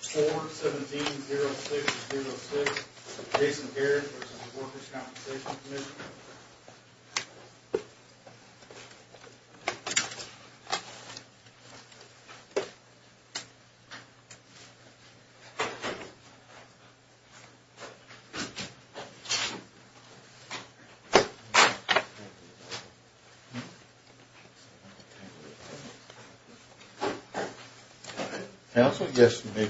4-17-06-06 Jason Gehrig, Works at the Workers' Compensation Commission www.LibertyMutual.com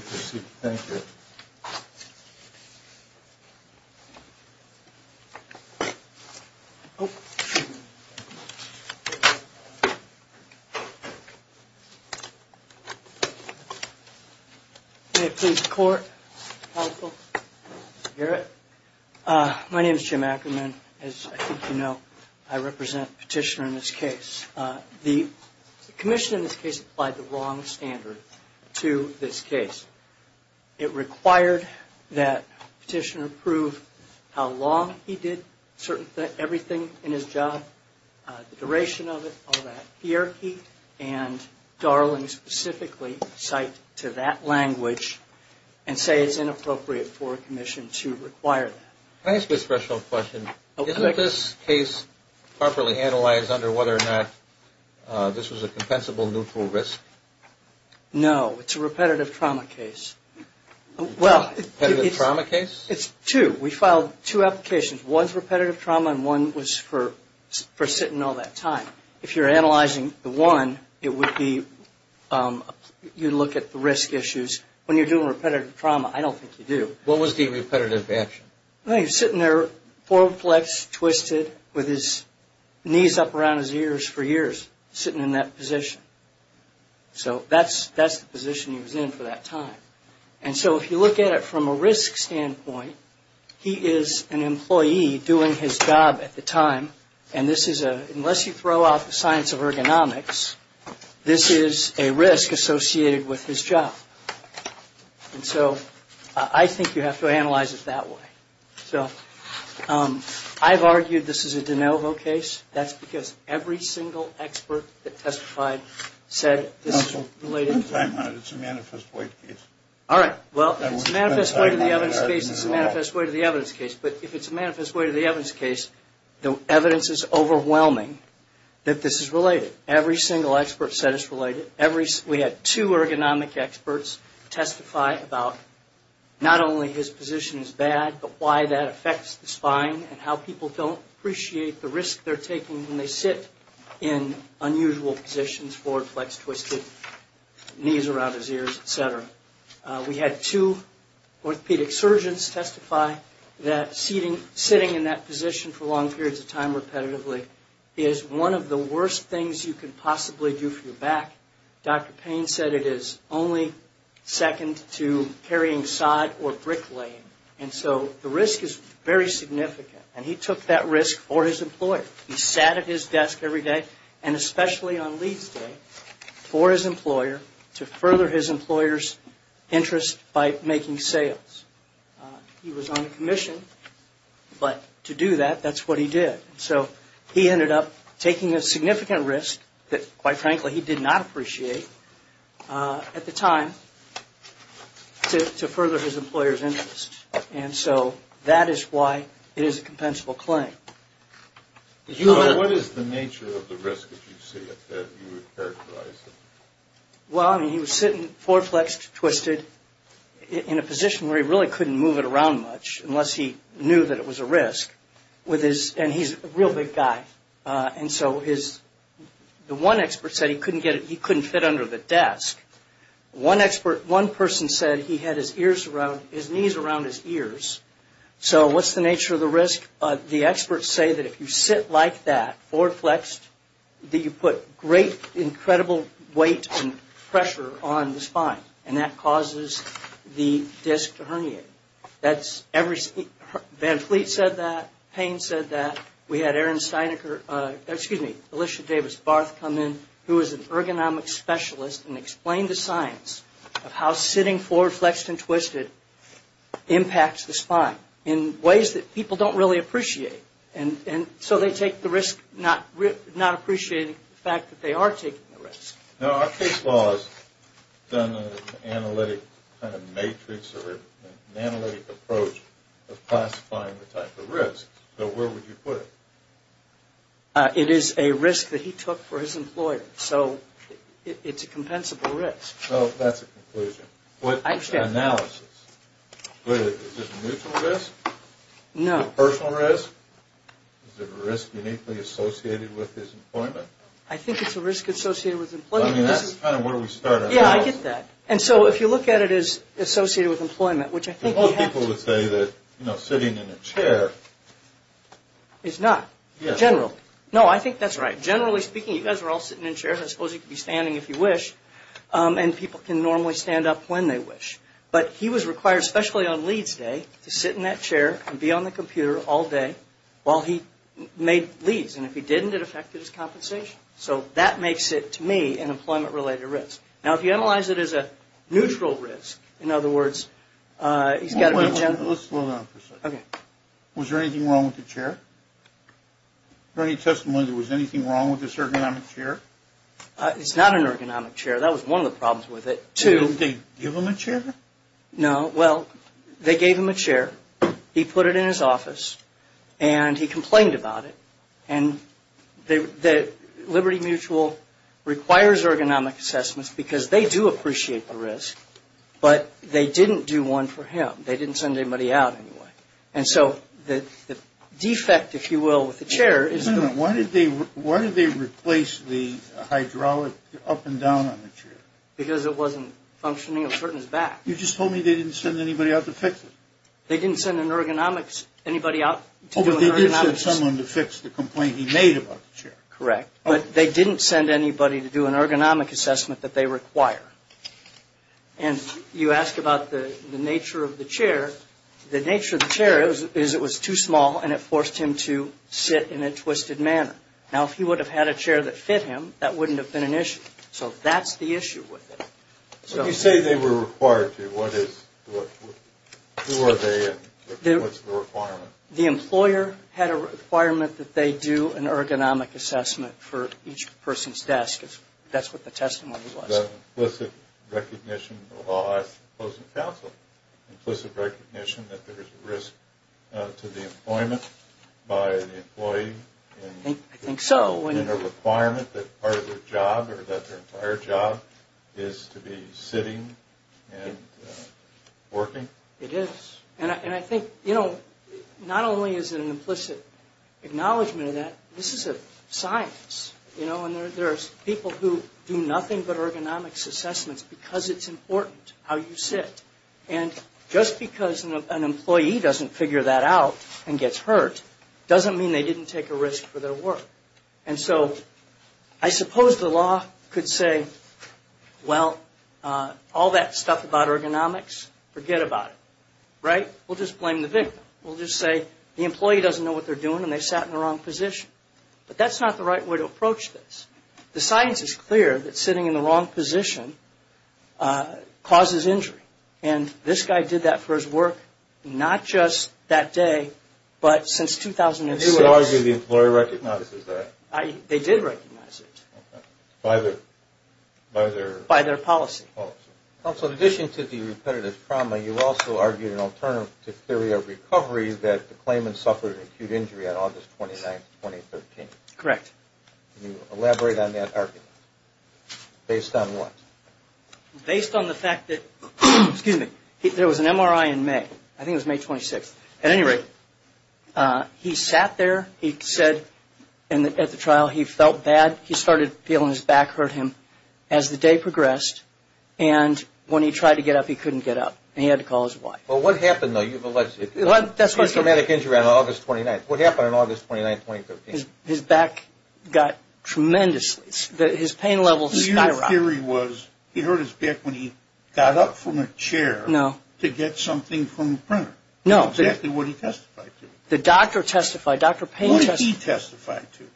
Jim Ackerman, Petitioner My name is Jim Ackerman. As I think you know, I represent Petitioner in this case. The commission in this case applied the wrong standard to this case. It required that Petitioner prove how long he did everything in his job, the duration of it, all that hierarchy, and Darling specifically cite to that language and say it's inappropriate for a commission to require that. Can I ask you a special question? Isn't this case properly analyzed under whether or not this was a compensable neutral risk? No, it's a repetitive trauma case. Repetitive trauma case? It's two. We filed two applications. One's repetitive trauma and one was for sitting all that time. If you're analyzing the one, it would be you look at the risk issues. When you're doing repetitive trauma, I don't think you do. What was the repetitive action? He was sitting there, four-flexed, twisted, with his knees up around his ears for years, sitting in that position. That's the position he was in for that time. If you look at it from a risk standpoint, he is an employee doing his job at the time. Unless you throw out the science of ergonomics, this is a risk associated with his job. I think you have to analyze it that way. I've argued this is a de novo case. That's because every single expert that testified said this is related. It's a manifest way to the evidence case. If it's a manifest way to the evidence case, the evidence is overwhelming that this is related. Every single expert said it's related. We had two ergonomic experts testify about not only his position is bad, but why that affects the spine and how people don't appreciate the risk they're taking when they sit in unusual positions, four-flexed, twisted, knees around his ears, et cetera. We had two orthopedic surgeons testify that sitting in that position for long periods of time repetitively is one of the worst things you could possibly do for your back. Dr. Payne said it is only second to carrying sod or brick laying. The risk is very significant. He took that risk for his employer. He sat at his desk every day, and especially on leads day, for his employer to further his employer's interest by making sales. He was on a commission, but to do that, that's what he did. So he ended up taking a significant risk that, quite frankly, he did not appreciate at the time to further his employer's interest. And so that is why it is a compensable claim. What is the nature of the risk that you see that you would characterize? Well, he was sitting four-flexed, twisted, in a position where he really couldn't move it around much unless he knew that it was a risk. And he is a real big guy. And so the one expert said he couldn't fit under the desk. One person said he had his knees around his ears. So what is the nature of the risk? The experts say that if you sit like that, four-flexed, that you put great, incredible weight and pressure on the spine, and that causes the disc to herniate. Van Fleet said that. Payne said that. We had Erin Steinecker, excuse me, Alicia Davis-Barth come in, who is an ergonomic specialist, and explained the science of how sitting four-flexed and twisted impacts the spine in ways that people don't really appreciate. And so they take the risk not appreciating the fact that they are taking the risk. Now, our case law has done an analytic kind of matrix or an analytic approach of classifying the type of risk. So where would you put it? It is a risk that he took for his employer. So it's a compensable risk. Well, that's a conclusion. Analysis. Is this a mutual risk? No. Personal risk? Is it a risk uniquely associated with his employment? I think it's a risk associated with employment. I mean, that's kind of where we started. Yeah, I get that. And so if you look at it as associated with employment, which I think he had to. Most people would say that, you know, sitting in a chair. It's not. General. No, I think that's right. Generally speaking, you guys were all sitting in chairs. I suppose you could be standing if you wish, and people can normally stand up when they wish. But he was required, especially on leads day, to sit in that chair and be on the computer all day while he made leads. And if he didn't, it affected his compensation. So that makes it, to me, an employment-related risk. Now, if you analyze it as a neutral risk, in other words, he's got to be gentle. Let's slow down for a second. Okay. Was there anything wrong with the chair? Any testimony there was anything wrong with this ergonomic chair? It's not an ergonomic chair. That was one of the problems with it. Two. Did they give him a chair? No. Well, they gave him a chair. He put it in his office. And he complained about it. And Liberty Mutual requires ergonomic assessments because they do appreciate the risk. But they didn't do one for him. They didn't send anybody out anyway. And so the defect, if you will, with the chair is that – Wait a minute. Why did they replace the hydraulic up and down on the chair? Because it wasn't functioning up to his back. You just told me they didn't send anybody out to fix it. They didn't send an ergonomics – anybody out to do an ergonomics assessment. Oh, but they did send someone to fix the complaint he made about the chair. Correct. But they didn't send anybody to do an ergonomic assessment that they require. And you ask about the nature of the chair. The nature of the chair is it was too small, and it forced him to sit in a twisted manner. Now, if he would have had a chair that fit him, that wouldn't have been an issue. So that's the issue with it. So you say they were required to. What is – who are they, and what's the requirement? The employer had a requirement that they do an ergonomic assessment for each person's desk. That's what the testimony was. Was it recognition of the law as opposed to counsel? Implicit recognition that there is a risk to the employment by the employee? I think so. And a requirement that part of their job or that their entire job is to be sitting and working? It is. And I think, you know, not only is it an implicit acknowledgement of that, this is a science, you know, and there are people who do nothing but ergonomics assessments because it's important how you sit. And just because an employee doesn't figure that out and gets hurt doesn't mean they didn't take a risk for their work. And so I suppose the law could say, well, all that stuff about ergonomics, forget about it. Right? We'll just blame the victim. We'll just say the employee doesn't know what they're doing and they sat in the wrong position. But that's not the right way to approach this. The science is clear that sitting in the wrong position causes injury. And this guy did that for his work not just that day, but since 2006. I do argue the employee recognizes that. They did recognize it. Okay. By their policy. Also, in addition to the repetitive trauma, you also argued an alternative theory of recovery that the claimant suffered an acute injury on August 29, 2013. Correct. Can you elaborate on that argument based on what? Based on the fact that there was an MRI in May. I think it was May 26th. At any rate, he sat there. He said at the trial he felt bad. He started feeling his back hurt him as the day progressed. And when he tried to get up, he couldn't get up. And he had to call his wife. Well, what happened, though? You've alleged a traumatic injury on August 29th. What happened on August 29th, 2013? His back got tremendously – his pain levels skyrocketed. Your theory was he hurt his back when he got up from a chair to get something from a printer. No. Exactly what he testified to. The doctor testified. Dr. Payne testified. What did he testify to?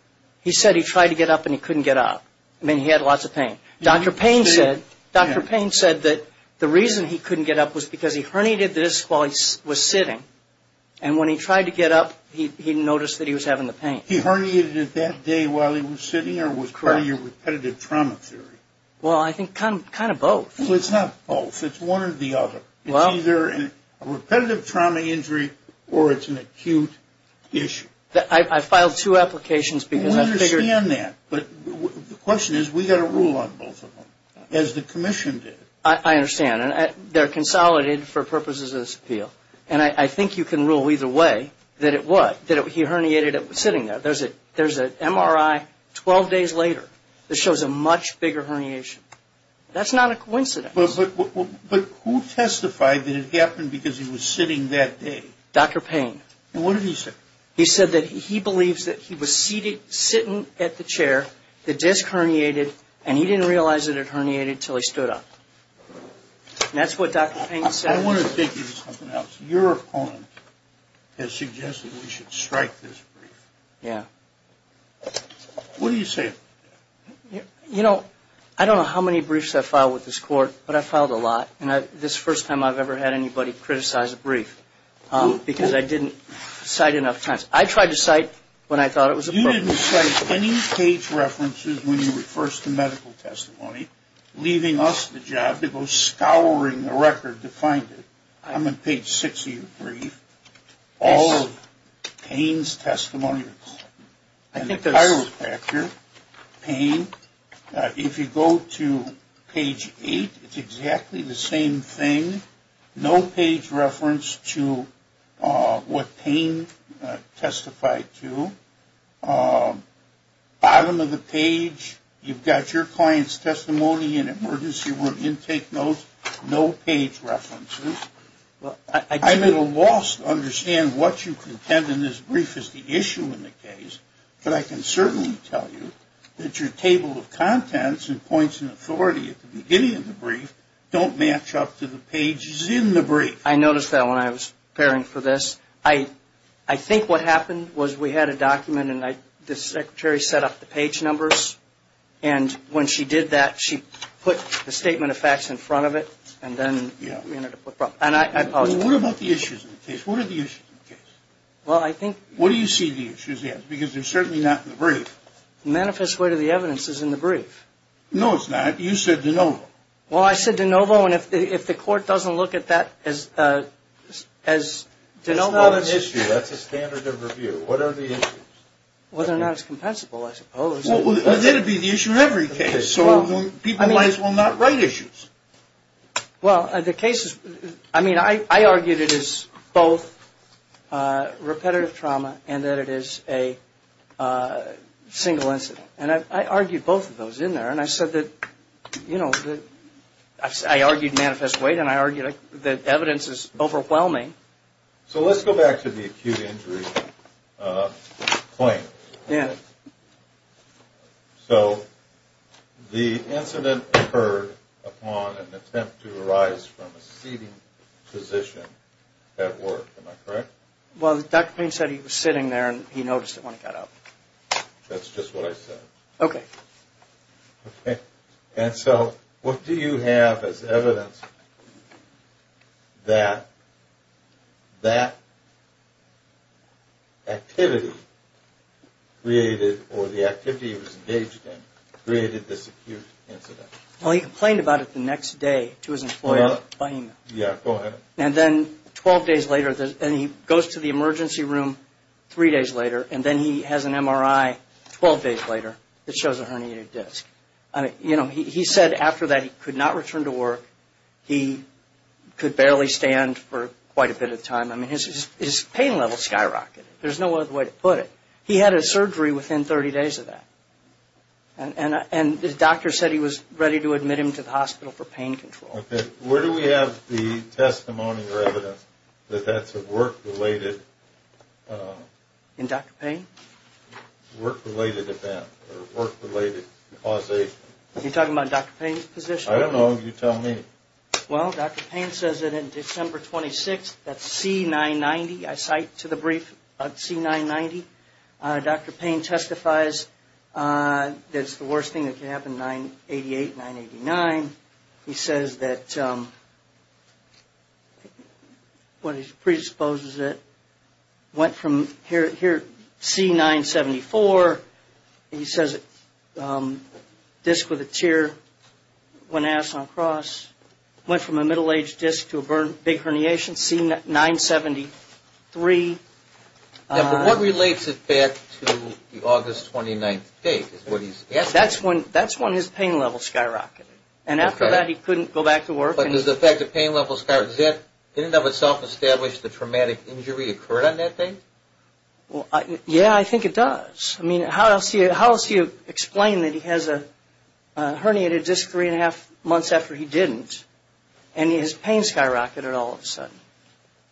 He said he tried to get up and he couldn't get up. I mean, he had lots of pain. Dr. Payne said that the reason he couldn't get up was because he herniated this while he was sitting. And when he tried to get up, he noticed that he was having the pain. He herniated it that day while he was sitting or was part of your repetitive trauma theory? Well, I think kind of both. Well, it's not both. It's one or the other. It's either a repetitive trauma injury or it's an acute issue. I filed two applications because I figured – We understand that. But the question is we've got to rule on both of them, as the commission did. I understand. And they're consolidated for purposes of this appeal. And I think you can rule either way that it was that he herniated it sitting there. There's an MRI 12 days later that shows a much bigger herniation. That's not a coincidence. But who testified that it happened because he was sitting that day? Dr. Payne. And what did he say? He said that he believes that he was sitting at the chair, the disc herniated, and he didn't realize that it herniated until he stood up. And that's what Dr. Payne said. I want to take you to something else. Your opponent has suggested we should strike this brief. Yeah. What do you say? You know, I don't know how many briefs I've filed with this court, but I've filed a lot. And this is the first time I've ever had anybody criticize a brief because I didn't cite enough times. I tried to cite when I thought it was appropriate. You didn't cite any page references when you were first in medical testimony, leaving us the job to go scouring the record to find it. I'm on page 6 of your brief. All of Payne's testimonies. I think that's – And the chiropractor, Payne, if you go to page 8, it's exactly the same thing. No page reference to what Payne testified to. Bottom of the page, you've got your client's testimony and emergency room intake notes, no page references. I'm at a loss to understand what you contend in this brief is the issue in the case, but I can certainly tell you that your table of contents and points in authority at the beginning of the brief don't match up to the pages in the brief. I noticed that when I was preparing for this. I think what happened was we had a document and the secretary set up the page numbers. And when she did that, she put the statement of facts in front of it and then we ended up with problems. And I apologize. What about the issues in the case? What are the issues in the case? Well, I think – Where do you see the issues at? Because they're certainly not in the brief. The manifest way to the evidence is in the brief. No, it's not. You said de novo. Well, I said de novo, and if the court doesn't look at that as de novo – It's not an issue. That's a standard of review. What are the issues? Well, they're not as compensable, I suppose. Well, then it would be the issue in every case. So people might as well not write issues. Well, the case is – I mean, I argued it is both repetitive trauma and that it is a single incident. And I argued both of those in there. And I said that, you know, I argued manifest weight and I argued that evidence is overwhelming. So let's go back to the acute injury claim. Yeah. So the incident occurred upon an attempt to arise from a seating position at work. Am I correct? Well, Dr. Payne said he was sitting there and he noticed it when he got up. That's just what I said. Okay. Okay. And so what do you have as evidence that that activity created – or the activity he was engaged in created this acute incident? Well, he complained about it the next day to his employer. Yeah, go ahead. And then 12 days later – and he goes to the emergency room three days later and then he has an MRI 12 days later that shows a herniated disc. You know, he said after that he could not return to work. He could barely stand for quite a bit of time. I mean, his pain level skyrocketed. There's no other way to put it. He had a surgery within 30 days of that. And the doctor said he was ready to admit him to the hospital for pain control. Okay. Where do we have the testimony or evidence that that's a work-related – In Dr. Payne? Work-related event or work-related causation? Are you talking about Dr. Payne's position? I don't know. You tell me. Well, Dr. Payne says that on December 26th, that's C990. I cite to the brief C990. Dr. Payne testifies that it's the worst thing that could happen, 988, 989. He says that what he predisposes it went from here, C974. He says a disc with a tear, one ass on a cross, went from a middle-aged disc to a big herniation, C973. Now, but what relates it back to the August 29th date is what he's asking. That's when his pain level skyrocketed. And after that, he couldn't go back to work. But does the fact that pain level skyrocketed, does that in and of itself establish the traumatic injury occurred on that date? Well, yeah, I think it does. I mean, how else do you explain that he has a herniated disc three and a half months after he didn't, and his pain skyrocketed all of a sudden?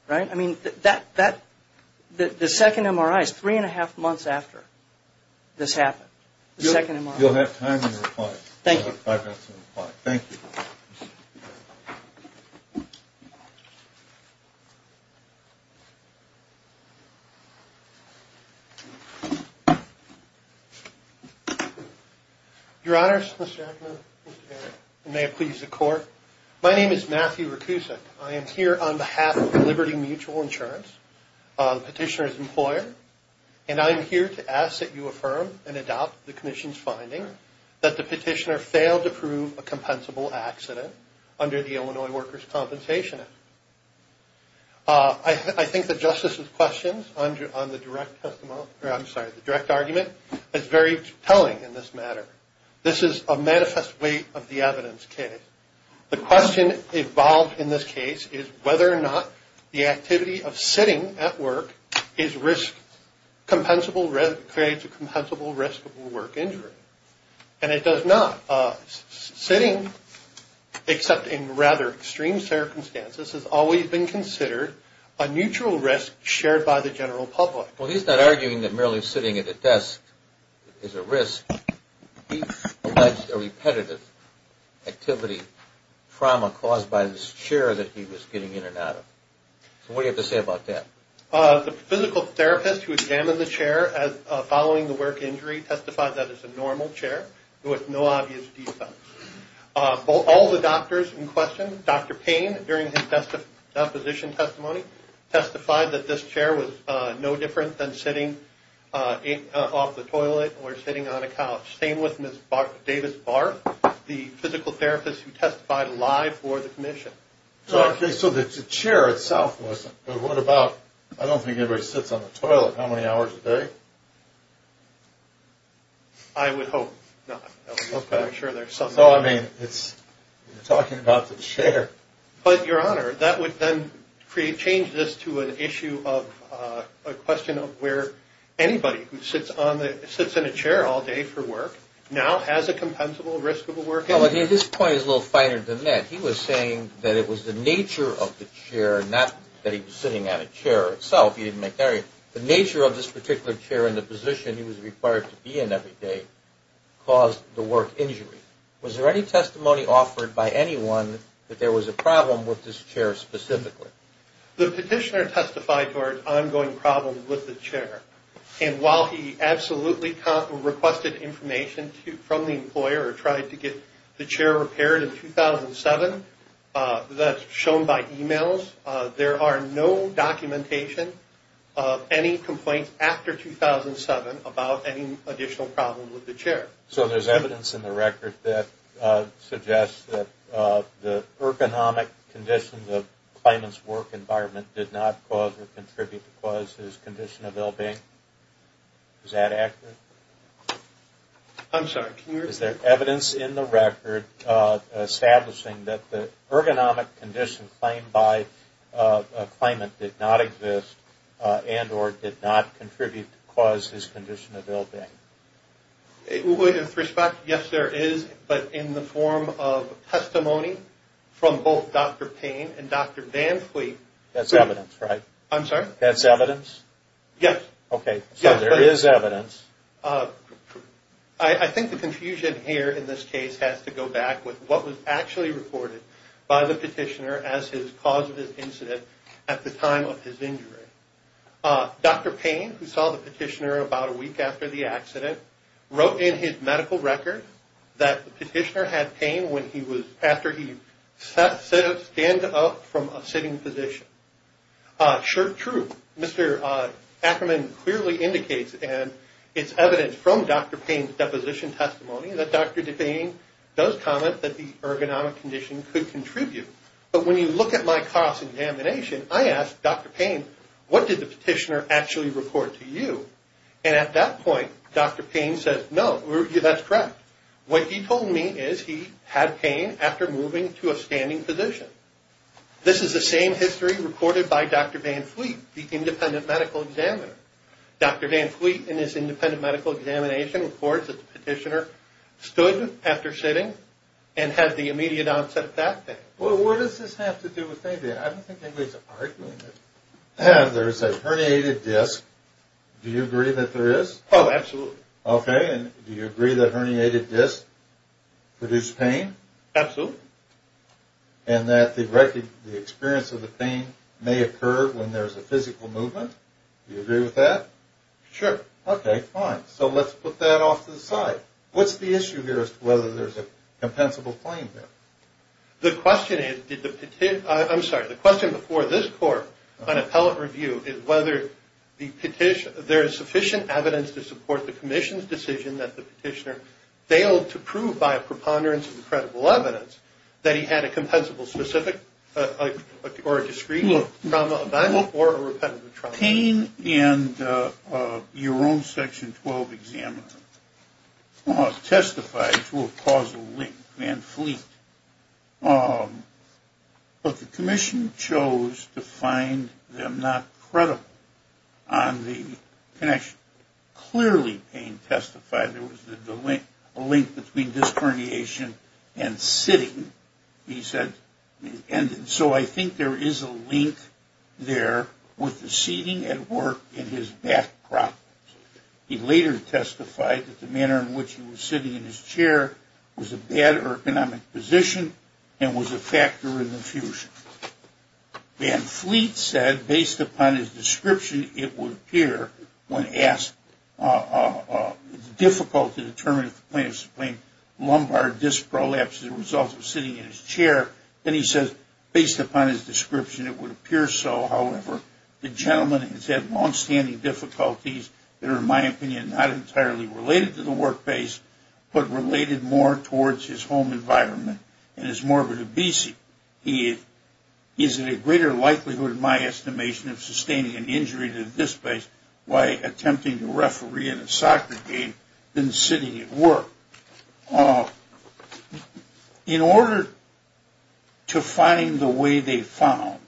Right? I mean, the second MRI is three and a half months after this happened, the second MRI. You'll have time to reply. Thank you. You'll have five minutes to reply. Thank you. Your Honors, Mr. Jackman, Mr. Garrett, and may it please the Court. My name is Matthew Rakusek. I am here on behalf of Liberty Mutual Insurance, petitioner's employer, and I am here to ask that you affirm and adopt the Commission's finding that the petitioner failed to prove a compensable accident under the Illinois Workers' Compensation Act. I think the Justice's questions on the direct argument is very telling in this matter. This is a manifest weight of the evidence case. The question involved in this case is whether or not the activity of sitting at work creates a compensable risk of work injury. And it does not. Sitting, except in rather extreme circumstances, has always been considered a neutral risk shared by the general public. Well, he's not arguing that merely sitting at a desk is a risk. He alleged a repetitive activity, trauma caused by this chair that he was getting in and out of. So what do you have to say about that? The physical therapist who examined the chair following the work injury testified that it's a normal chair with no obvious defects. All the doctors in question, Dr. Payne, during his deposition testimony, testified that this chair was no different than sitting off the toilet or sitting on a couch. Same with Ms. Davis-Barth, the physical therapist who testified live for the Commission. So the chair itself wasn't. But what about, I don't think anybody sits on the toilet how many hours a day? I would hope not. I'm sure there's something else. No, I mean, you're talking about the chair. But, Your Honor, that would then change this to an issue of a question of where anybody who sits in a chair all day for work now has a compensable risk of a work injury. No, I mean, his point is a little finer than that. He was saying that it was the nature of the chair, not that he was sitting on a chair itself. He didn't make that argument. The nature of this particular chair and the position he was required to be in every day caused the work injury. Was there any testimony offered by anyone that there was a problem with this chair specifically? The petitioner testified to our ongoing problem with the chair. And while he absolutely requested information from the employer or tried to get the chair repaired in 2007, that's shown by e-mails, there are no documentation of any complaints after 2007 about any additional problems with the chair. So there's evidence in the record that suggests that the ergonomic conditions of the claimant's work environment did not cause or contribute to cause his condition of ill-being. Is that accurate? I'm sorry, can you repeat that? Is there evidence in the record establishing that the ergonomic condition claimed by a claimant did not exist and or did not contribute to cause his condition of ill-being? With respect, yes, there is. But in the form of testimony from both Dr. Payne and Dr. Van Fleet... That's evidence, right? I'm sorry? That's evidence? Yes. Okay, so there is evidence. I think the confusion here in this case has to go back with what was actually reported by the petitioner as his cause of his incident at the time of his injury. Dr. Payne, who saw the petitioner about a week after the accident, wrote in his medical record that the petitioner had pain when he was... after he stood up from a sitting position. Sure, true. Mr. Ackerman clearly indicates, and it's evidence from Dr. Payne's deposition testimony, that Dr. DePayne does comment that the ergonomic condition could contribute. But when you look at my cause examination, I asked Dr. Payne, what did the petitioner actually report to you? And at that point, Dr. Payne says, no, that's correct. What he told me is he had pain after moving to a standing position. This is the same history reported by Dr. Van Fleet, the independent medical examiner. Dr. Van Fleet, in his independent medical examination, reports that the petitioner stood after sitting and had the immediate onset of back pain. Well, what does this have to do with anything? I don't think anybody's arguing this. There's a herniated disc. Do you agree that there is? Oh, absolutely. Okay, and do you agree that herniated discs produce pain? Absolutely. And that the experience of the pain may occur when there's a physical movement? Do you agree with that? Sure. Okay, fine. So let's put that off to the side. What's the issue here as to whether there's a compensable claim there? The question before this court on appellate review is whether there is sufficient evidence to support the commission's decision that the petitioner failed to prove by a preponderance that he had a compensable specific or a discreet trauma event or a repetitive trauma. Pain in your own Section 12 examiner testifies to a causal link, Van Fleet. But the commission chose to find them not credible on the connection. Clearly pain testified there was a link between disc herniation and sitting, he said. And so I think there is a link there with the seating at work and his back problems. He later testified that the manner in which he was sitting in his chair was a bad ergonomic position and was a factor in the fusion. Van Fleet said, based upon his description, it would appear when asked, it's difficult to determine if the plaintiff's plain lumbar disc prolapsed as a result of sitting in his chair. Then he says, based upon his description, it would appear so. However, the gentleman has had longstanding difficulties that are, in my opinion, not entirely related to the work base but related more towards his home environment and his morbid obesity. He is in a greater likelihood, in my estimation, of sustaining an injury to the disc by attempting to referee in a soccer game than sitting at work. In order to find the way they found,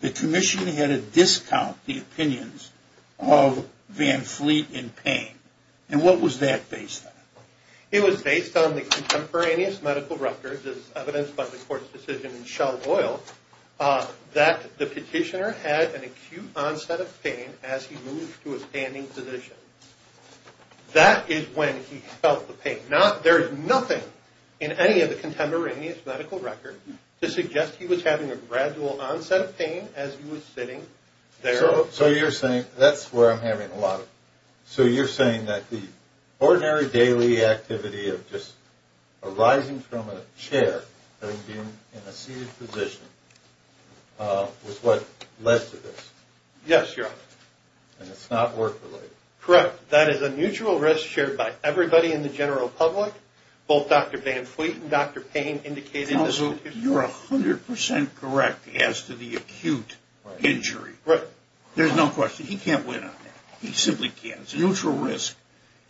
the commission had to discount the opinions of Van Fleet in pain. And what was that based on? It was based on the contemporaneous medical records as evidenced by the court's decision in Shell Oil that the petitioner had an acute onset of pain as he moved to a standing position. That is when he felt the pain. There is nothing in any of the contemporaneous medical records to suggest he was having a gradual onset of pain as he was sitting there. So you're saying, that's where I'm having a lot of, So you're saying that the ordinary daily activity of just arising from a chair, having been in a seated position, was what led to this? Yes, Your Honor. And it's not work related? Correct. That is a mutual risk shared by everybody in the general public, both Dr. Van Fleet and Dr. Payne indicated in this petition. You're 100% correct as to the acute injury. There's no question. He can't win on that. He simply can't. It's a mutual risk.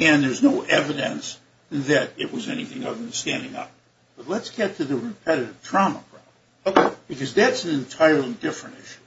And there's no evidence that it was anything other than standing up. But let's get to the repetitive trauma problem. Okay. Because that's an entirely different issue.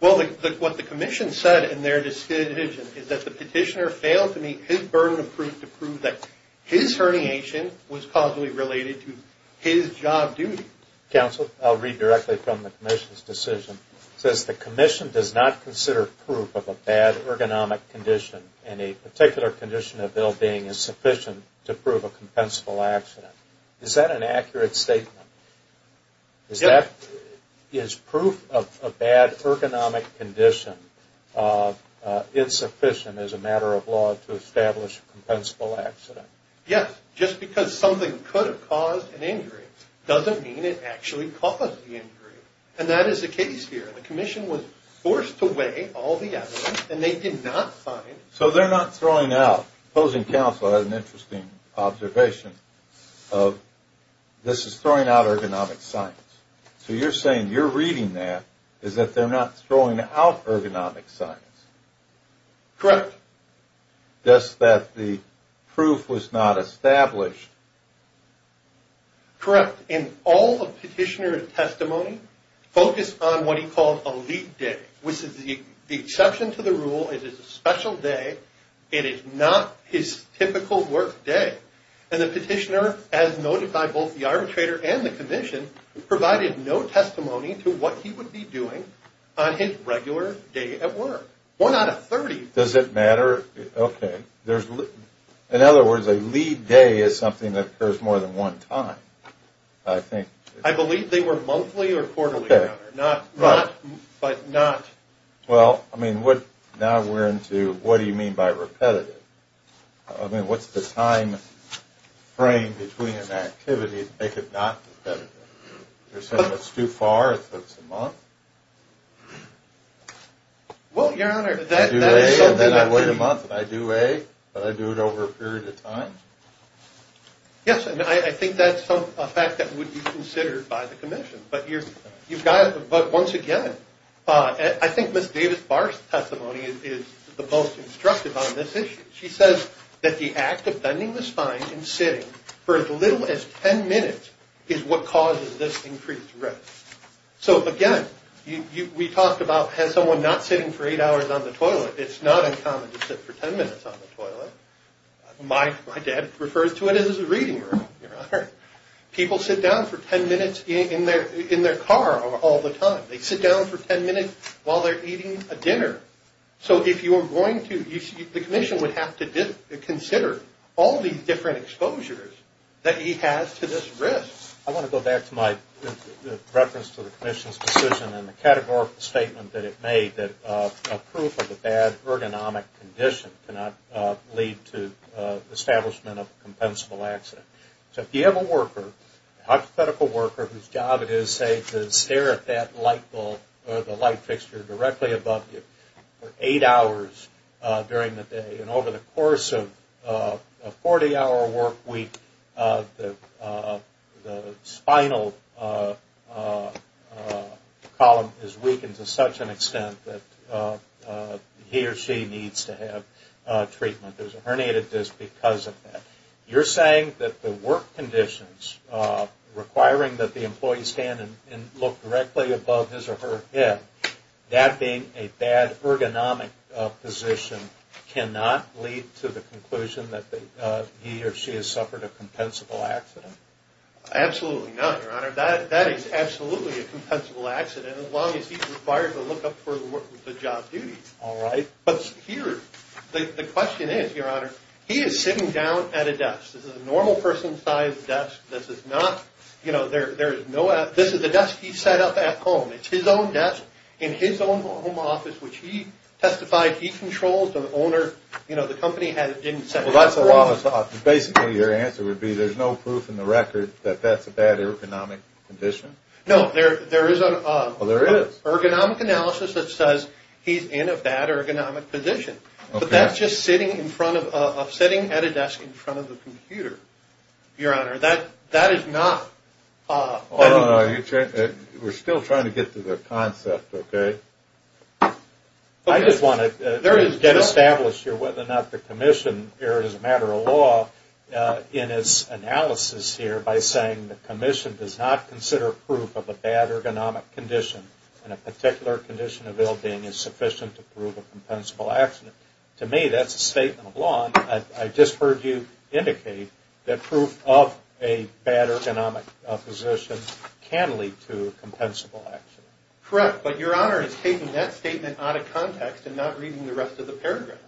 Well, what the commission said in their decision is that the petitioner failed to meet his burden of proof to prove that his herniation was causally related to his job duty. Counsel, I'll read directly from the commission's decision. It says, The commission does not consider proof of a bad ergonomic condition and a particular condition of ill-being is sufficient to prove a compensable accident. Is that an accurate statement? Yes. Is proof of a bad ergonomic condition insufficient as a matter of law to establish a compensable accident? Yes. Just because something could have caused an injury doesn't mean it actually caused the injury. And that is the case here. The commission was forced to weigh all the evidence, and they did not find. So they're not throwing out. Opposing counsel had an interesting observation of this is throwing out ergonomic science. So you're saying you're reading that as if they're not throwing out ergonomic science. Correct. Just that the proof was not established. Correct. And all the petitioner's testimony focused on what he called a lead day, which is the exception to the rule. It is a special day. It is not his typical work day. And the petitioner, as noted by both the arbitrator and the commission, provided no testimony to what he would be doing on his regular day at work. One out of 30. Does it matter? Okay. In other words, a lead day is something that occurs more than one time, I think. I believe they were monthly or quarterly, Your Honor. Okay. Not, but not. Well, I mean, now we're into what do you mean by repetitive? I mean, what's the time frame between an activity to make it not repetitive? You're saying it's too far, so it's a month? Well, Your Honor, that is something that could be. I do A, but I do it over a period of time? Yes, and I think that's a fact that would be considered by the commission. But once again, I think Ms. Davis-Barr's testimony is the most instructive on this issue. She says that the act of bending the spine and sitting for as little as 10 minutes is what causes this increased risk. So, again, we talked about has someone not sitting for eight hours on the toilet? It's not uncommon to sit for 10 minutes on the toilet. My dad refers to it as a reading room, Your Honor. People sit down for 10 minutes in their car all the time. They sit down for 10 minutes while they're eating a dinner. So if you're going to, the commission would have to consider all these different exposures that he has to this risk. I want to go back to my reference to the commission's decision and the categorical statement that it made that a proof of a bad ergonomic condition cannot lead to establishment of a compensable accident. So if you have a worker, a hypothetical worker, whose job it is, say, to stare at that light bulb or the light fixture directly above you for eight hours during the day, and over the course of a 40-hour work week, the spinal column is weakened to such an extent that he or she needs to have treatment. There's a herniated disc because of that. You're saying that the work conditions requiring that the employee stand and look directly above his or her head, that being a bad ergonomic position cannot lead to the conclusion that he or she has suffered a compensable accident? Absolutely not, Your Honor. That is absolutely a compensable accident as long as he's required to look up for the job duties. All right. But here, the question is, Your Honor, he is sitting down at a desk. This is a normal person-sized desk. This is not, you know, there is no, this is a desk he set up at home. It's his own desk in his own home office, which he testified he controls. The owner, you know, the company didn't set it up for him. Basically, your answer would be there's no proof in the record that that's a bad ergonomic condition? No, there is an ergonomic analysis that says he's in a bad ergonomic position. But that's just sitting at a desk in front of a computer, Your Honor. That is not. We're still trying to get to the concept, okay? I just want to get established here whether or not the commission erred as a matter of law in its analysis here by saying the commission does not consider proof of a bad ergonomic condition and a particular condition of ill-being is sufficient to prove a compensable accident. I just heard you indicate that proof of a bad ergonomic position can lead to a compensable accident. Correct, but Your Honor is taking that statement out of context and not reading the rest of the paragraph.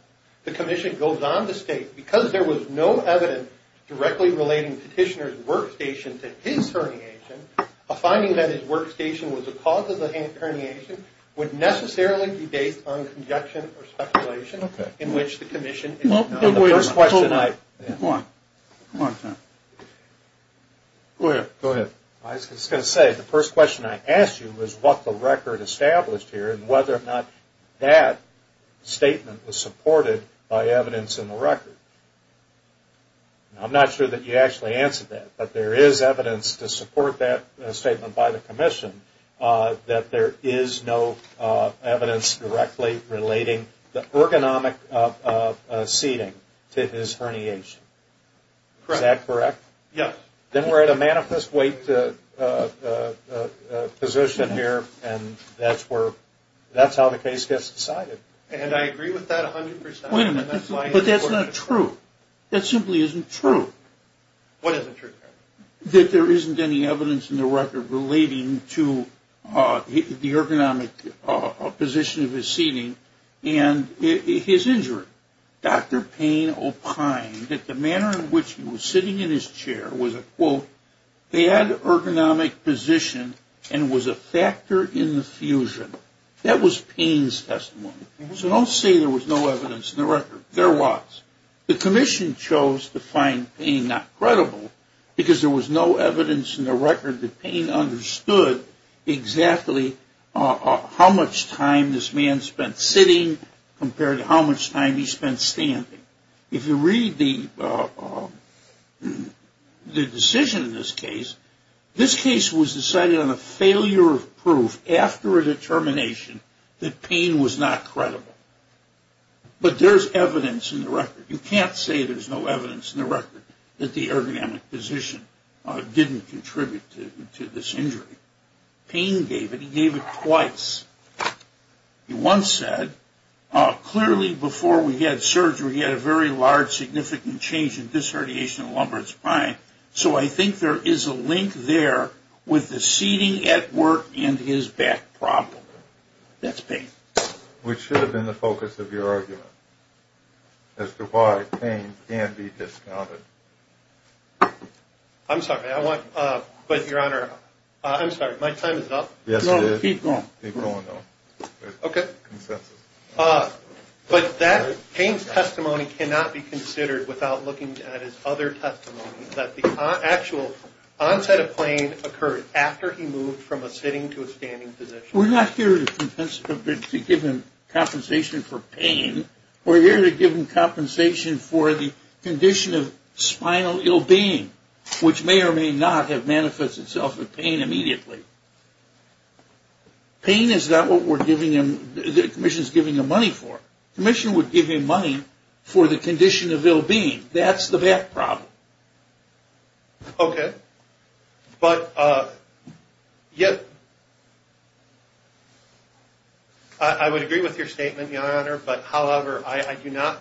The commission goes on to state, because there was no evidence directly relating Petitioner's workstation to his herniation, a finding that his workstation was the cause of the herniation would necessarily be based on conjecture or speculation in which the commission. Go ahead. I was going to say the first question I asked you was what the record established here and whether or not that statement was supported by evidence in the record. I'm not sure that you actually answered that, that there is no evidence directly relating the ergonomic seating to his herniation. Is that correct? Yes. Then we're at a manifest weight position here and that's how the case gets decided. And I agree with that 100%. Wait a minute, but that's not true. That simply isn't true. What isn't true? That there isn't any evidence in the record relating to the ergonomic position of his seating and his injury. Dr. Payne opined that the manner in which he was sitting in his chair was a, quote, bad ergonomic position and was a factor in the fusion. That was Payne's testimony. So don't say there was no evidence in the record. There was. The commission chose to find Payne not credible because there was no evidence in the record that Payne understood exactly how much time this man spent sitting compared to how much time he spent standing. If you read the decision in this case, this case was decided on a failure of proof after a determination that Payne was not credible. But there's evidence in the record. You can't say there's no evidence in the record that the ergonomic position didn't contribute to this injury. Payne gave it. He gave it twice. He once said, clearly before we had surgery he had a very large significant change in this radiation in the lumbar spine, so I think there is a link there with the seating at work and his back problem. That's Payne. Which should have been the focus of your argument as to why Payne can be discounted. I'm sorry. But, Your Honor, I'm sorry. My time is up? Yes, it is. No, keep going. Keep going, though. Okay. Consensus. But Payne's testimony cannot be considered without looking at his other testimony, that the actual onset of pain occurred after he moved from a sitting to a standing position. We're not here to give him compensation for pain. We're here to give him compensation for the condition of spinal ill-being, which may or may not have manifested itself with Payne immediately. Payne is not what we're giving him, the commission's giving him money for. The commission would give him money for the condition of ill-being. That's the back problem. Okay. But I would agree with your statement, Your Honor, but, however, I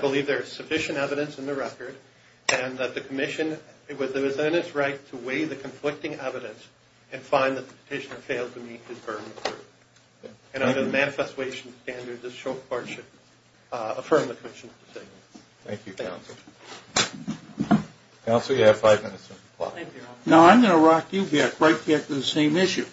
believe there is sufficient evidence in the record and that the commission was in its right to weigh the conflicting evidence and find that the petitioner failed to meet his burden of proof. And under the Manifest Ways and Standards, this Court should affirm the commission's decision. Thank you, Counsel. Counsel, you have five minutes to reply. Thank you, Your Honor. Now, I'm going to rock you back right back to the same issue.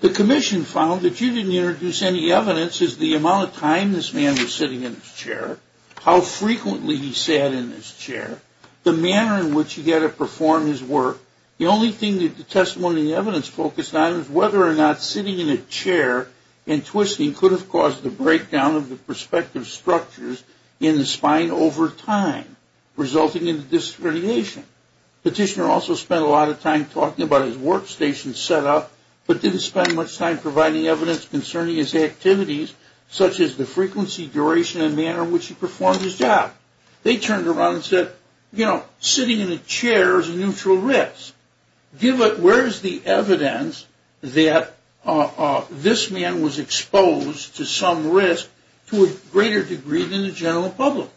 The commission found that you didn't introduce any evidence as to the amount of time this man was sitting in his chair, how frequently he sat in his chair, the manner in which he had to perform his work. The only thing that the testimony and evidence focused on is whether or not sitting in a chair and twisting could have caused the breakdown of the prospective structures in the spine over time, resulting in the discrimination. Petitioner also spent a lot of time talking about his workstation setup, but didn't spend much time providing evidence concerning his activities, such as the frequency, duration, and manner in which he performed his job. They turned around and said, you know, sitting in a chair is a neutral risk. Where is the evidence that this man was exposed to some risk to a greater degree than the general public?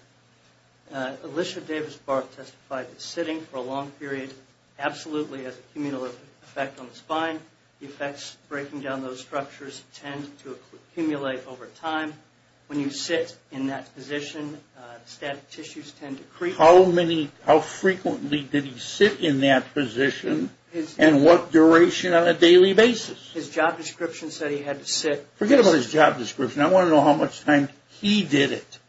Alicia Davis-Barth testified that sitting for a long period absolutely has a communal effect on the spine. The effects of breaking down those structures tend to accumulate over time. When you sit in that position, static tissues tend to creep. How frequently did he sit in that position and what duration on a daily basis? His job description said he had to sit. Forget about his job description. I want to know how much time he did it.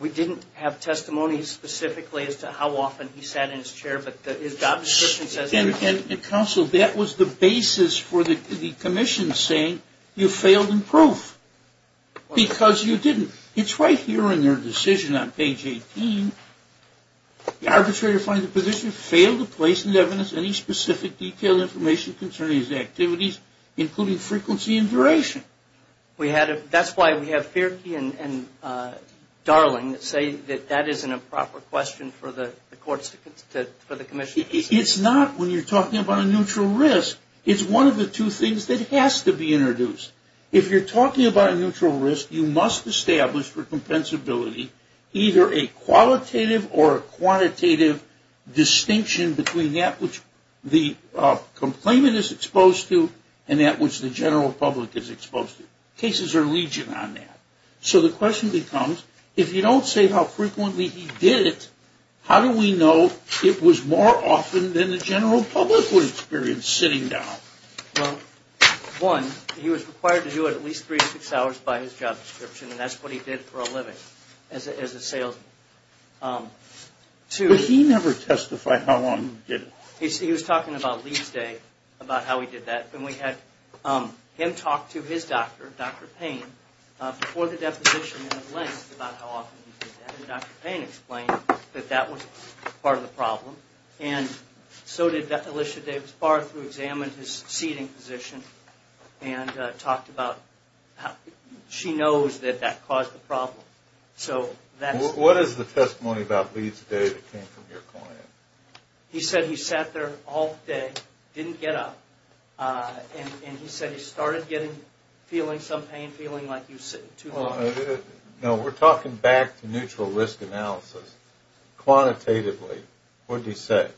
We didn't have testimony specifically as to how often he sat in his chair, but his job description says he did it. Counsel, that was the basis for the commission saying you failed in proof because you didn't. It's right here in their decision on page 18. The arbitrator finds the position failed to place into evidence any specific detailed information concerning his activities, including frequency and duration. That's why we have Fierke and Darling that say that that isn't a proper question for the courts, for the commission. It's not when you're talking about a neutral risk. It's one of the two things that has to be introduced. If you're talking about a neutral risk, you must establish for compensability either a qualitative or a quantitative distinction between that which the complainant is exposed to and that which the general public is exposed to. Cases are legion on that. So the question becomes, if you don't say how frequently he did it, how do we know it was more often than the general public would experience sitting down? Well, one, he was required to do it at least three to six hours by his job description, and that's what he did for a living as a salesman. But he never testified how often he did it. He was talking about Lee's day, about how he did that. Then we had him talk to his doctor, Dr. Payne, before the deposition in the length about how often he did that. Dr. Payne explained that that was part of the problem, and so did Alicia Davis Barth, who examined his seating position and talked about how she knows that that caused the problem. What is the testimony about Lee's day that came from your client? He said he sat there all day, didn't get up, and he said he started feeling some pain, feeling like he was sitting too long. We're talking back to neutral risk analysis. Quantitatively, what did he say?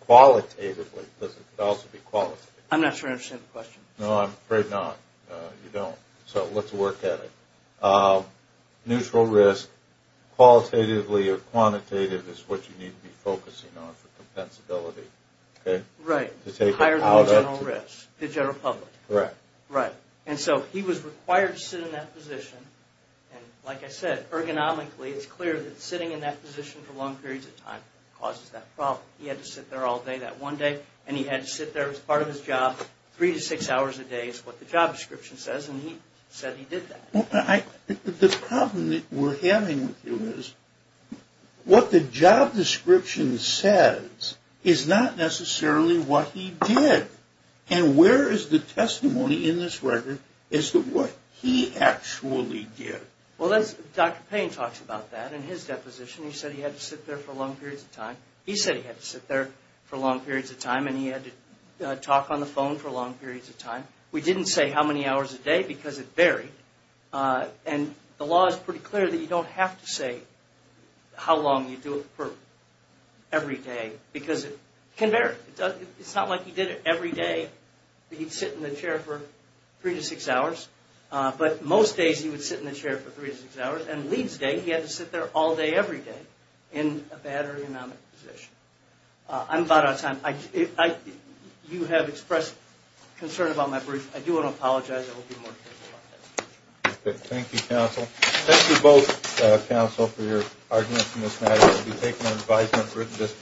Qualitatively, because it could also be qualitative. I'm not sure I understand the question. No, I'm afraid not. You don't. So let's work at it. Neutral risk, qualitatively or quantitative, is what you need to be focusing on for compensability. Right. Higher than general risk, the general public. Correct. Right. And so he was required to sit in that position, and like I said, ergonomically, it's clear that sitting in that position for long periods of time causes that problem. He had to sit there all day that one day, and he had to sit there as part of his job, three to six hours a day is what the job description says, and he said he did that. The problem that we're having with you is what the job description says is not necessarily what he did. And where is the testimony in this record as to what he actually did? Well, Dr. Payne talks about that in his deposition. He said he had to sit there for long periods of time. He said he had to sit there for long periods of time, and he had to talk on the phone for long periods of time. We didn't say how many hours a day because it varied, and the law is pretty clear that you don't have to say how long you do it for every day because it can vary. It's not like he did it every day that he'd sit in the chair for three to six hours, but most days he would sit in the chair for three to six hours, and Lee's day he had to sit there all day every day in a bad or anomic position. I'm about out of time. You have expressed concern about my brief. I do want to apologize. I will be more careful about that. Okay. Thank you, counsel. Thank you both, counsel, for your arguments in this matter. We'll be taking our advisement for at this time.